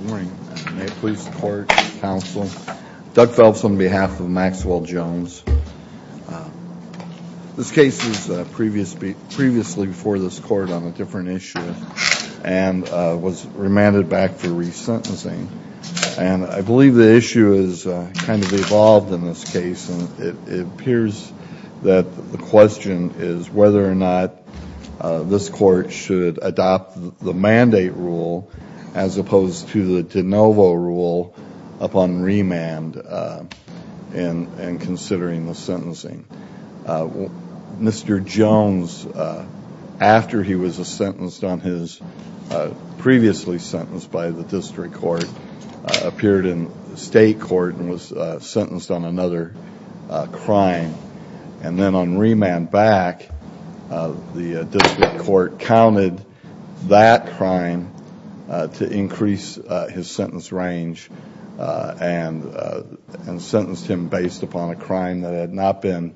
May it please the court, counsel. Doug Phelps on behalf of Maxwell Jones. This case is previously before this court on a different issue and was remanded back for resentencing and I believe the issue is kind of evolved in this case and it appears that the question is whether or not this court should adopt the mandate rule as opposed to the de novo rule upon remand and considering the sentencing. Mr. Jones after he was a sentenced on his previously sentenced by the district court appeared in state court and was sentenced on another crime and then on remand back the district court counted that crime to increase his sentence range and sentenced him based upon a crime that had not been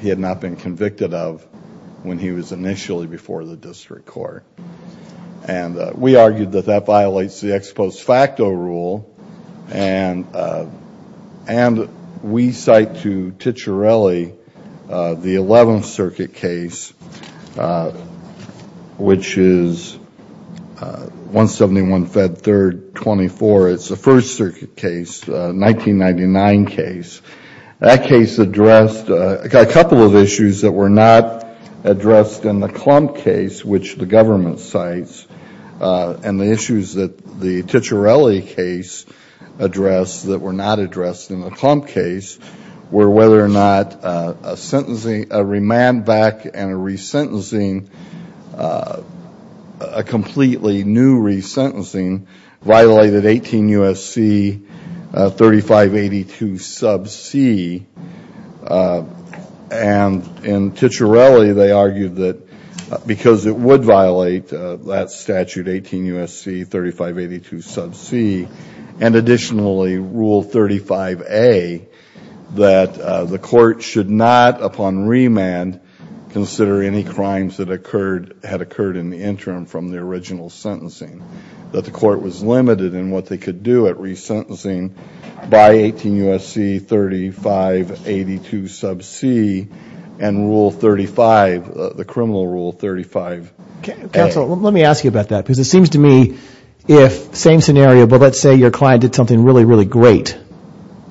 he had not been convicted of when he was initially before the district court and we argued that that violates the ex post facto rule and and we cite to Ticciarelli the 11th circuit case which is 171 Fed 3rd 24 it's the first circuit case 1999 case that case addressed a couple of issues that were not addressed in the and the issues that the Ticciarelli case address that were not addressed in the clump case where whether or not a sentencing a remand back and a resentencing a completely new resentencing violated 18 USC 3582 sub C and in Ticciarelli they argued that because it would violate that statute 18 USC 3582 sub C and additionally rule 35 a that the court should not upon remand consider any crimes that occurred had occurred in the interim from the original sentencing that the court was limited in what they could do it resentencing by 18 USC 3582 sub C and rule 35 the criminal rule 35 let me ask you about that because it seems to me if same scenario but let's say your client did something really really great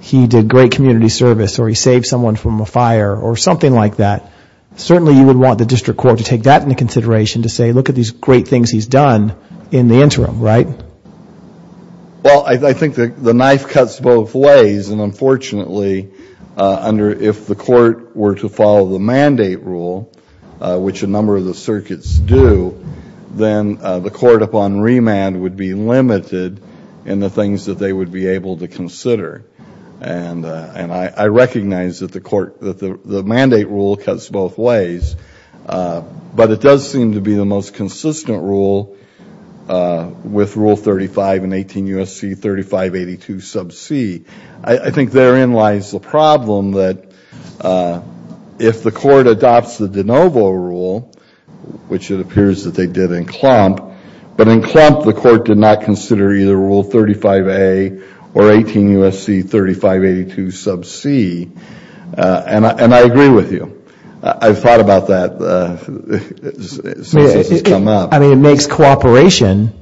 he did great community service or he saved someone from a fire or something like that certainly you would want the district court to take that into consideration to say look at these great things he's done in the interim right well I think that the knife cuts both ways and unfortunately under if the court were to follow the mandate rule which a number of the circuits do then the court upon remand would be limited in the things that they would be able to consider and and I recognize that the court that the mandate rule cuts both ways but it does seem to be the most consistent rule with rule 35 and 18 USC 3582 sub C I think therein lies the problem that if the court adopts the de novo rule which it appears that they did in clump but in clump the court did not consider either rule 35 a or 18 USC 3582 sub C and I agree with you I've thought about that I mean it makes cooperation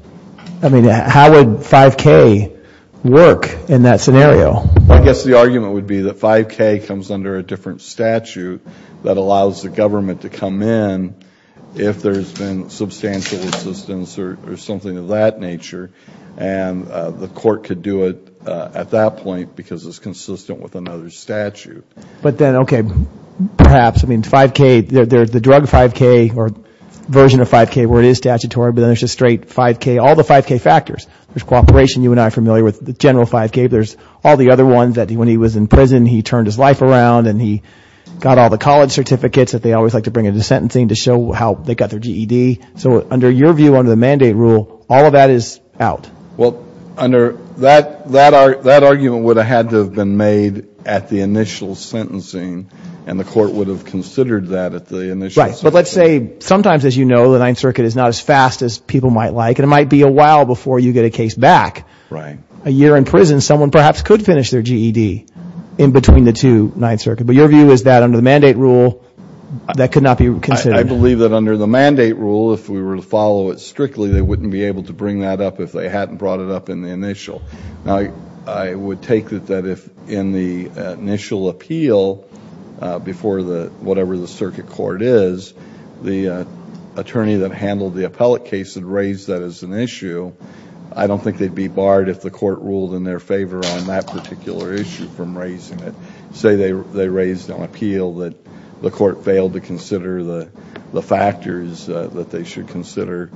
I mean how would 5k work in that scenario I guess the argument would be that 5k comes under a different statute that allows the government to come in if there's been substantial assistance or something of that nature and the court could do it at that point because it's consistent with another statute but then okay perhaps I mean 5k there's the drug 5k or version of 5k where it is statutory but there's a straight 5k all the 5k factors there's cooperation you and I familiar with the general 5k there's all the other ones that he when he was in prison he turned his life around and he got all the college certificates that they always like to bring into sentencing to show how they got their GED so under your view under the mandate rule all of that is out well under that that are that argument would have had to have been made at the initial sentencing and the court would have considered that at the initial but let's say sometimes as you know the Ninth Circuit is not as fast as people might like and it might be a while before you get a case back right a perhaps could finish their GED in between the two Ninth Circuit but your view is that under the mandate rule that could not be considered I believe that under the mandate rule if we were to follow it strictly they wouldn't be able to bring that up if they hadn't brought it up in the initial now I would take that that if in the initial appeal before the whatever the circuit court is the attorney that handled the appellate case had raised that as an issue I don't think they'd be barred if the court ruled in their favor on that particular issue from raising it say they raised on appeal that the court failed to consider the the factors that they should consider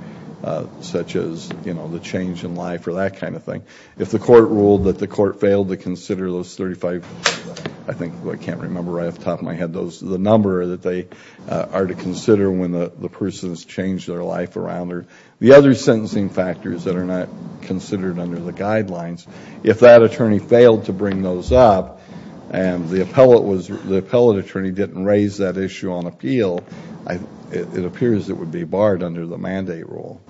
such as you know the change in life or that kind of thing if the court ruled that the court failed to consider those 35 I think I can't remember I have top of my head those the number that they are to consider when the person has changed their life around or the other sentencing factors that are not considered under the guidelines if that attorney failed to bring those up and the appellate was the appellate attorney didn't raise that issue on appeal I it appears it would be barred under the mandate rule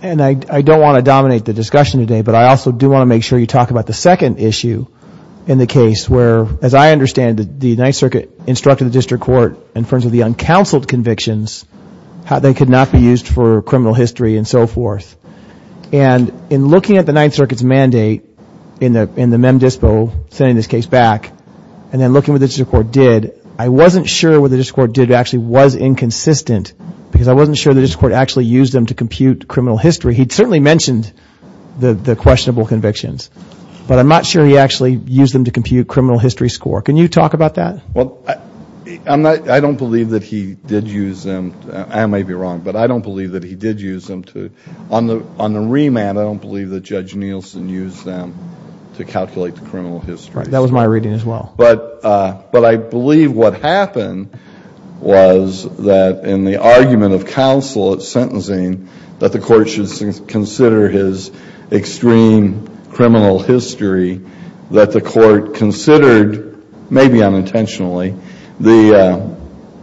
and I don't want to dominate the discussion today but I also do want to make sure you talk about the second issue in the case where as I understand the Ninth Circuit instructed the district court in front of the criminal history and so forth and in looking at the Ninth Circuit's mandate in the in the mem dispo sending this case back and then looking with the district court did I wasn't sure what the district court did actually was inconsistent because I wasn't sure that his court actually used them to compute criminal history he'd certainly mentioned the the questionable convictions but I'm not sure he actually used them to compute criminal history score can you talk about that well I'm not I don't believe that he did use them I may be wrong but I don't believe that he did use them to on the on the remand I don't believe that judge Nielsen used them to calculate the criminal history that was my reading as well but but I believe what happened was that in the argument of counsel at sentencing that the court should consider his extreme criminal history that the court considered maybe unintentionally the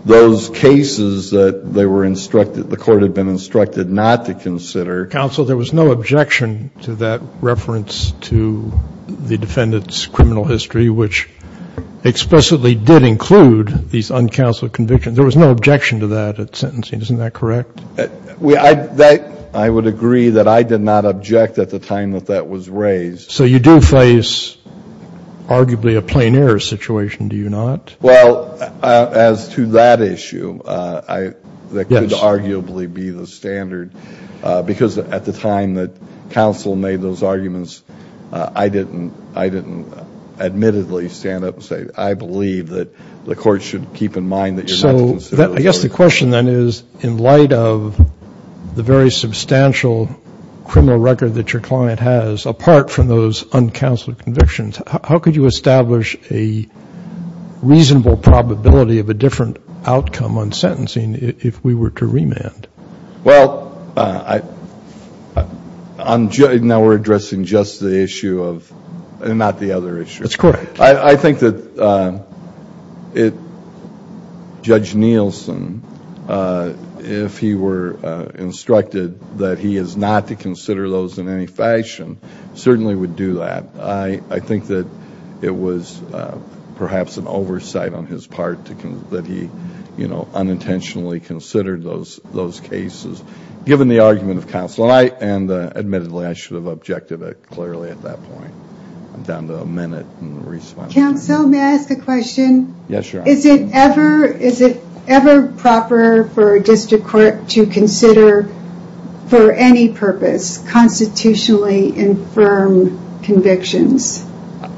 those cases that they were instructed the court had been instructed not to consider counsel there was no objection to that reference to the defendants criminal history which explicitly did include these uncounseled convictions there was no objection to that at sentencing isn't that correct we I that I would agree that I did not object at the time that that was raised so you do face arguably a plein air situation do you not well as to that issue I that could arguably be the standard because at the time that counsel made those arguments I didn't I didn't admittedly stand up and say I believe that the court should keep in mind that so that I guess the question then is in light of the very substantial criminal record that your client has apart from those uncounseled convictions how could you establish a reasonable probability of a different outcome on sentencing if we were to remand well I I'm judging now we're addressing just the issue of and not the other issue that's correct I think that it judge Nielsen if he were instructed that he is not to consider those in any fashion certainly would do that I I think that it was perhaps an oversight on his part to come that he you know unintentionally considered those those cases given the argument of counsel I and admittedly I should have objected it clearly at that point I'm down to a minute and response so may I ask a question yes sure is it ever is it ever proper for a district court to consider for any purpose constitutionally infirm convictions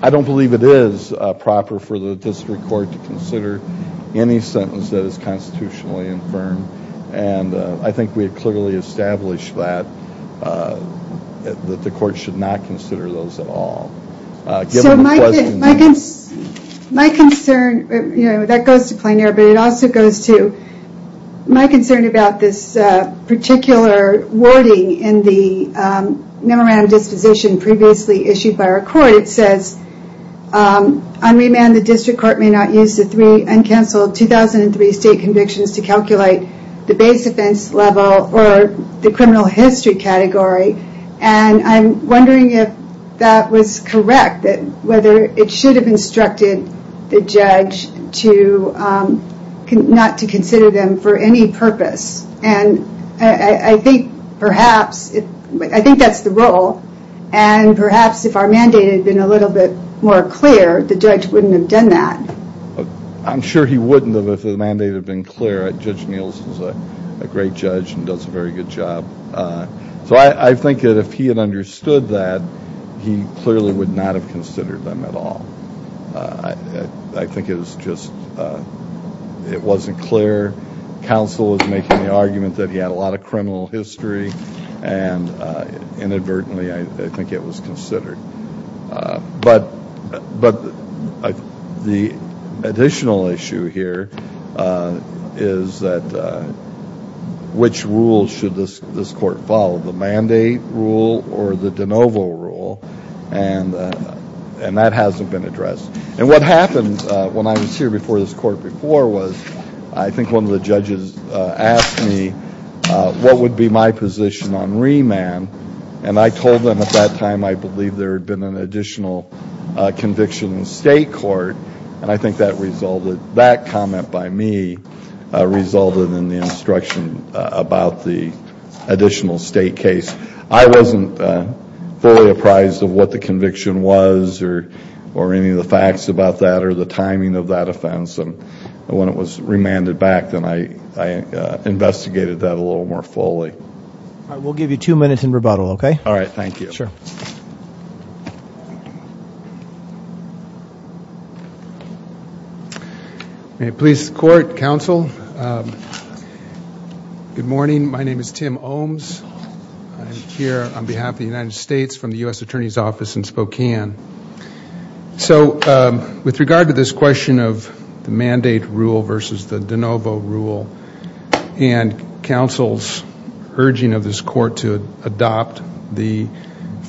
I don't believe it is proper for the district court to consider any sentence that is constitutionally infirm and I think we clearly established that the court should not consider those at all my concern that goes to plain air but it also goes to my concern about this particular wording in the memorandum disposition previously issued by our court it says on remand the district court may not use the three uncounseled 2003 state convictions to calculate the base offense level or the criminal history category and I'm wondering if that was correct that whether it should have instructed the judge to not to consider them for any purpose and I think perhaps I think that's the role and perhaps if our mandate had been a little bit more clear the judge wouldn't have done that I'm sure he wouldn't have if the mandate had been clear at Judge Neal's is a great judge and does a very good job so I think that if he had understood that he clearly would not have considered them at all I think it was just it wasn't clear counsel was making the argument that he had a lot of criminal history and inadvertently I think it was considered but but the additional issue here is that which rule should this this court follow the mandate rule or the de novo rule and and that hasn't been addressed and what happens when I was here before this court before was I think one of the judges asked me what would be my position on remand and I told them at that time I believe there had been an additional conviction in state court and I think that resulted that comment by me resulted in the instruction about the additional state case I wasn't fully apprised of what the conviction was or or any of the facts about that or the timing of that offense and when it was remanded back then I investigated that a little more fully I will give you two minutes in rebuttal okay all right thank you sure a police court counsel good morning my name is Tim Ohms here on behalf of the United States from the US Attorney's Office in Spokane so with regard to this question of the mandate rule versus the de novo rule and counsel's urging of this court to adopt the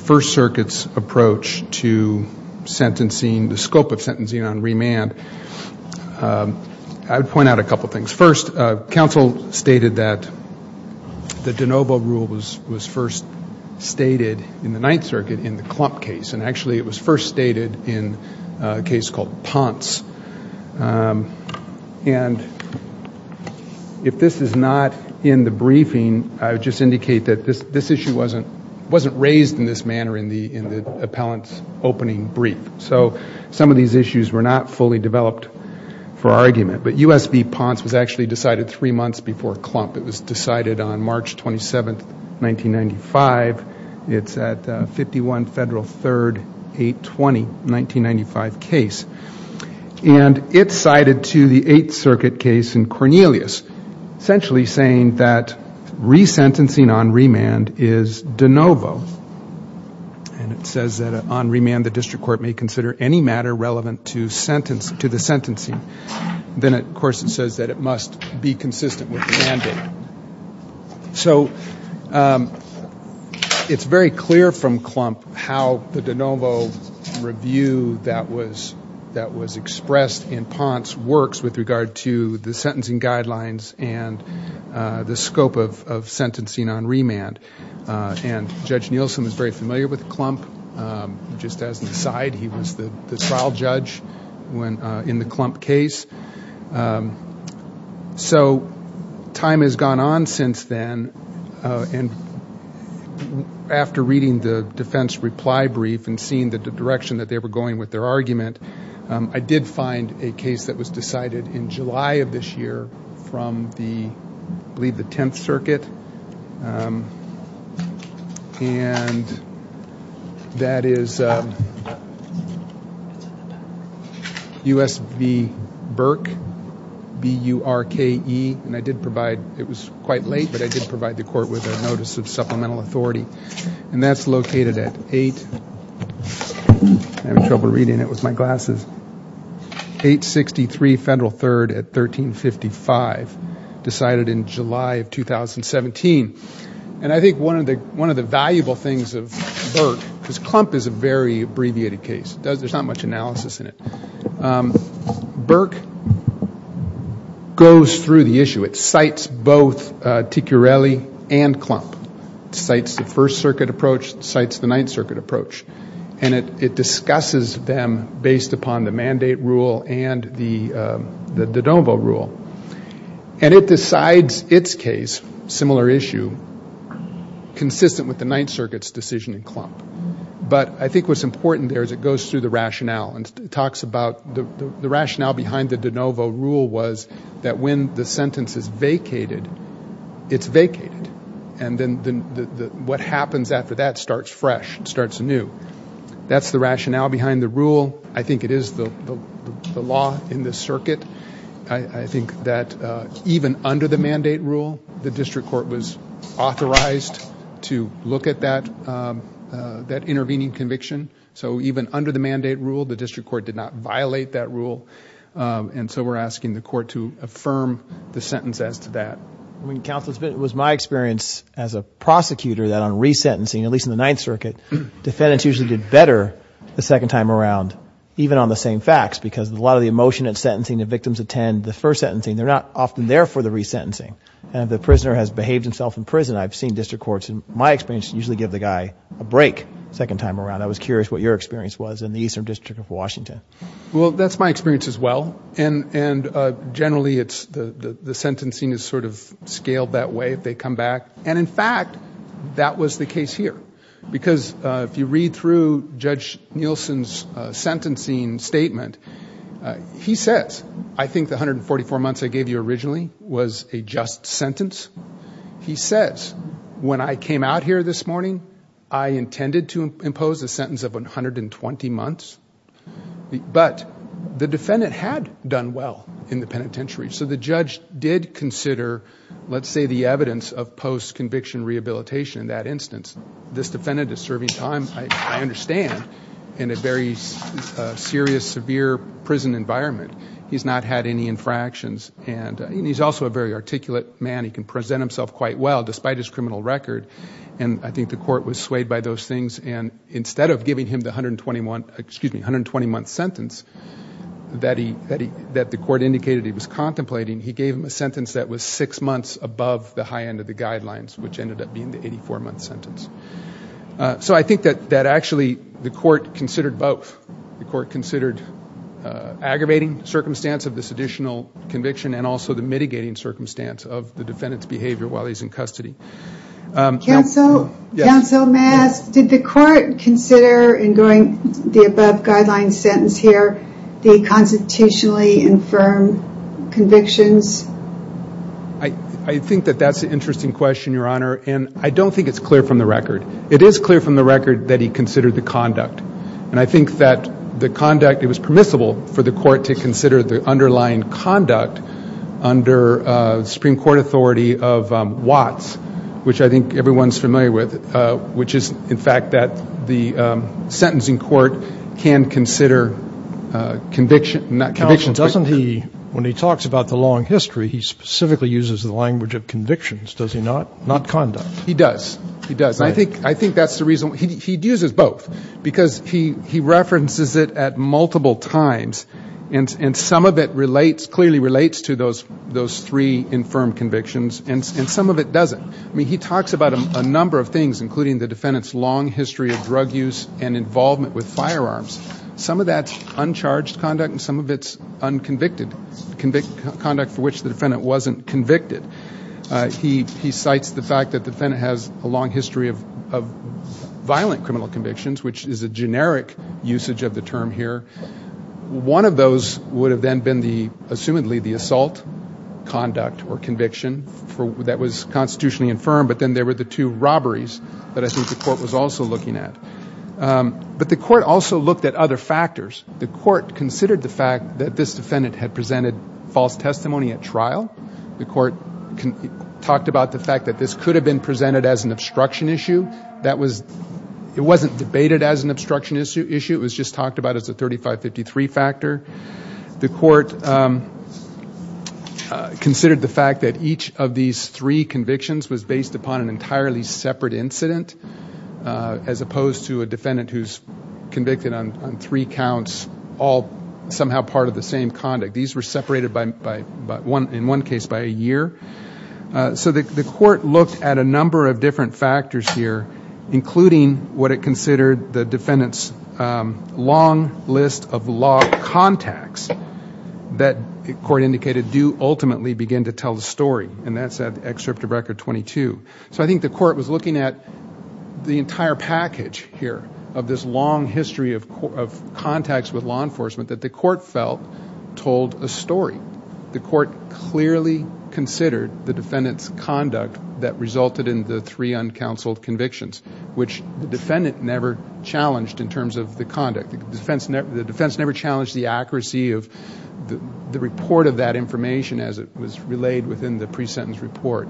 First Circuit's approach to sentencing the scope of sentencing on remand I would point out a couple things first counsel stated that the de novo rule was was first stated in the Ninth Circuit in the clump case and actually it was first stated in a case called Ponce and if this is not in the this issue wasn't wasn't raised in this manner in the in the appellant's opening brief so some of these issues were not fully developed for argument but USB Ponce was actually decided three months before clump it was decided on March 27th 1995 it's at 51 Federal 3rd 820 1995 case and it's cited to the 8th remand is de novo and it says that on remand the district court may consider any matter relevant to sentence to the sentencing then of course it says that it must be consistent with the mandate so it's very clear from clump how the de novo review that was that was expressed in Ponce works with regard to the sentencing on remand and judge Nielsen is very familiar with clump just as the side he was the trial judge when in the clump case so time has gone on since then and after reading the defense reply brief and seeing the direction that they were going with their argument I did find a case that was decided in July of this year from the lead the 10th circuit and that is us the Burke be you are ke and I did provide it was quite late but I did provide the court with a notice of supplemental authority and that's located at eight I'm trouble Federal 3rd at 1355 decided in July of 2017 and I think one of the one of the valuable things of clump is a very abbreviated case does there's not much analysis in it Burke goes through the issue it cites both TQ rally and clump sites the First Circuit approach sites the Ninth Circuit approach and it it them based upon the mandate rule and the the de novo rule and it decides its case similar issue consistent with the Ninth Circuit's decision in clump but I think was important there's it goes through the rationale and talks about the rationale behind the de novo rule was that when the sentence is vacated it's vacated and then what happens after that starts fresh starts a new that's the rule I think it is the law in the circuit I think that even under the mandate rule the district court was authorized to look at that that intervening conviction so even under the mandate rule the district court did not violate that rule and so we're asking the court to affirm the sentence as to that when council's bit was my experience as a prosecutor that on resentencing at least in the Ninth Circuit defendants usually did better the second time around even on the same facts because a lot of the emotion and sentencing the victims attend the first sentencing they're not often there for the resentencing and the prisoner has behaved himself in prison I've seen district courts and my experience usually give the guy a break second time around I was curious what your experience was in the Eastern District of Washington well that's my experience as well and and generally it's the the sentencing is sort of scaled that way if they come back and in fact that was the here because if you read through judge Nielsen's sentencing statement he says I think the 144 months I gave you originally was a just sentence he says when I came out here this morning I intended to impose a sentence of 120 months but the defendant had done well in the penitentiary so the judge did consider let's say the evidence of post conviction rehabilitation in that instance this defendant is serving time I understand in a very serious severe prison environment he's not had any infractions and he's also a very articulate man he can present himself quite well despite his criminal record and I think the court was swayed by those things and instead of giving him the hundred and twenty one excuse me hundred twenty month sentence that he that he that the court indicated he was contemplating he gave him a sentence that was six months above the high end of the guidelines which ended up being the 84 month sentence so I think that that actually the court considered both the court considered aggravating circumstance of this additional conviction and also the mitigating circumstance of the defendant's behavior while he's in custody. Counsel may I ask did the court consider in going the above guideline sentence here the constitutionally infirm convictions? I don't think it's clear from the record it is clear from the record that he considered the conduct and I think that the conduct it was permissible for the court to consider the underlying conduct under Supreme Court authority of Watts which I think everyone's familiar with which is in fact that the sentencing court can consider conviction not conviction. Counsel doesn't he when he talks about the long history he specifically uses the language of convictions does he not not conduct? He does he does I think I think that's the reason he uses both because he he references it at multiple times and some of it relates clearly relates to those those three infirm convictions and some of it doesn't. I mean he talks about a number of things including the defendant's long history of drug use and involvement with firearms. Some of that's uncharged conduct and some of its unconvicted conduct for which the defendant wasn't convicted. He cites the fact that the defendant has a long history of violent criminal convictions which is a generic usage of the term here. One of those would have then been the assumedly the assault conduct or conviction for that was constitutionally infirm but then there were the two robberies that I think the court was also looking at. But the court also looked at other factors. The court considered the fact that this defendant had presented false testimony at trial. The court talked about the fact that this could have been presented as an obstruction issue that was it wasn't debated as an obstruction issue issue it was just talked about as a 3553 factor. The court considered the fact that each of these three convictions was based upon an entirely separate incident as opposed to a defendant who's convicted on three counts all somehow part of the case by a year. So the court looked at a number of different factors here including what it considered the defendant's long list of law contacts that the court indicated do ultimately begin to tell the story and that's at excerpt of record 22. So I think the court was looking at the entire package here of this long history of contacts with law enforcement that the court felt told a story. The court clearly considered the defendant's conduct that resulted in the three uncounseled convictions which the defendant never challenged in terms of the conduct. The defense never challenged the accuracy of the report of that information as it was relayed within the pre-sentence report.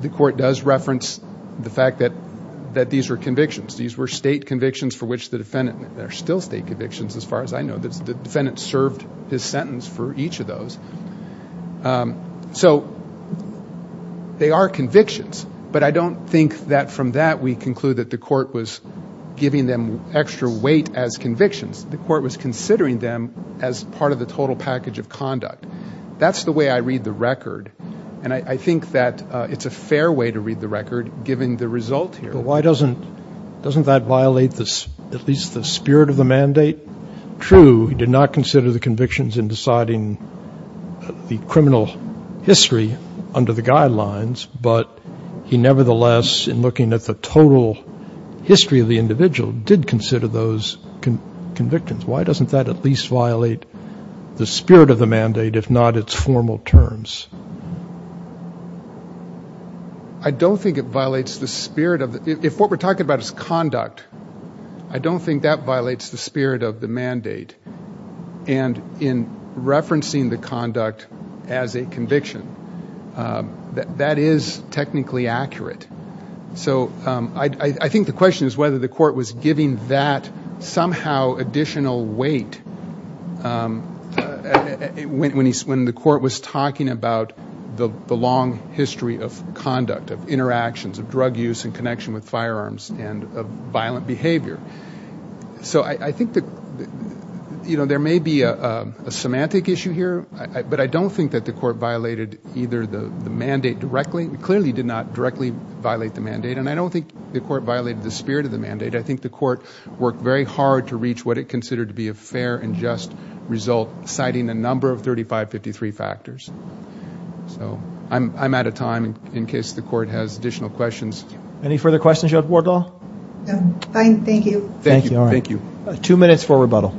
The court does reference the fact that that these were convictions. These were state convictions for which the defendant there are still state convictions as far as I know. The defendant served his sentence for each of those. So they are convictions but I don't think that from that we conclude that the court was giving them extra weight as convictions. The court was considering them as part of the total package of conduct. That's the way I read the record and I think that it's a fair way to read the record given the result here. Why doesn't doesn't that violate this at least the spirit of the mandate? True, he did not consider the convictions in deciding the criminal history under the guidelines but he nevertheless in looking at the total history of the individual did consider those convictions. Why doesn't that at least violate the spirit of the mandate if not its formal terms? I don't think it violates the spirit of it if what we're talking about is conduct. I don't think that violates the spirit of the mandate and in referencing the conduct as a conviction that is technically accurate. So I think the question is whether the court was giving that somehow additional weight when he's when the court was talking about the long history of conduct of interactions of drug use and connection with firearms and violent behavior. So I think that you know there may be a semantic issue here but I don't think that the court violated either the mandate directly. It clearly did not directly violate the mandate and I don't think the court violated the spirit of the mandate. I think the court worked very hard to reach what it considered to be a fair and just result citing a number of 3553 factors. So I'm out of time in case the court has additional questions. Any further questions? Thank you. Thank you. Thank you. Two minutes for rebuttal.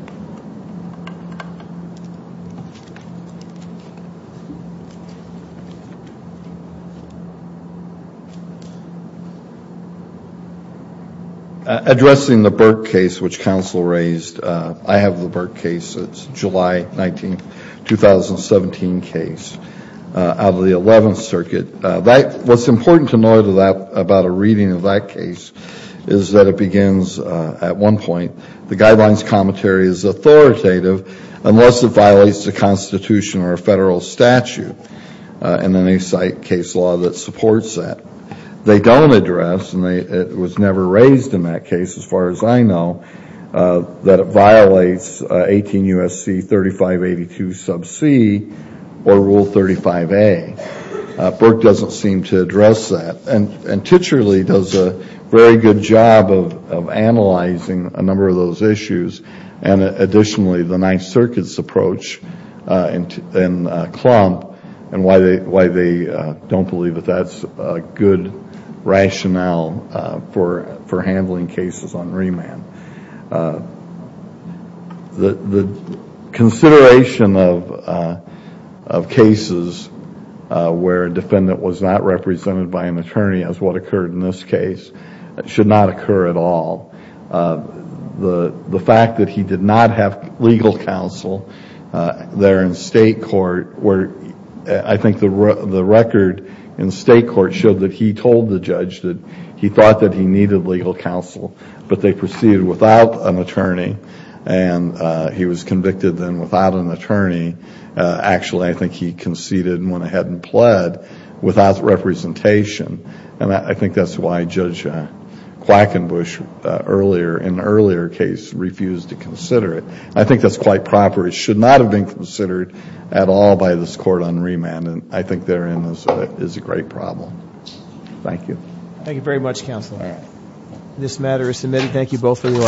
Addressing the Burke case which counsel raised, I have the Burke case. It's July 19, 2017 case out of the 11th Circuit. What's important to know to that about a reading of that case is that it begins at one point the guidelines commentary is authoritative unless it violates the Constitution or a federal statute and then they cite case law that supports that. They don't address and they it was never raised in that case as far as I know that it violates 18 U.S.C. 3582 sub c or rule 35a. Burke doesn't seem to address that and and Titcherly does a very good job of analyzing a number of those issues and additionally the Ninth Circuit's approach in Klump and why they why they don't believe that that's a good rationale for for handling cases on remand. The consideration of of cases where a defendant was not represented by an attorney as what occurred in this case should not occur at all. The the fact that he did not have legal counsel there in state court where I think the record in state court showed that he told the judge that he thought that he needed legal counsel but they proceeded without an attorney and he was convicted then without an attorney actually I think he conceded and went ahead and pled without representation and I think that's why Judge Quackenbush earlier in earlier case refused to consider it. I think that's quite proper it should not have considered at all by this court on remand and I think therein is a great problem. Thank you. Thank you very much counsel. This matter is submitted. Thank you both for the argument.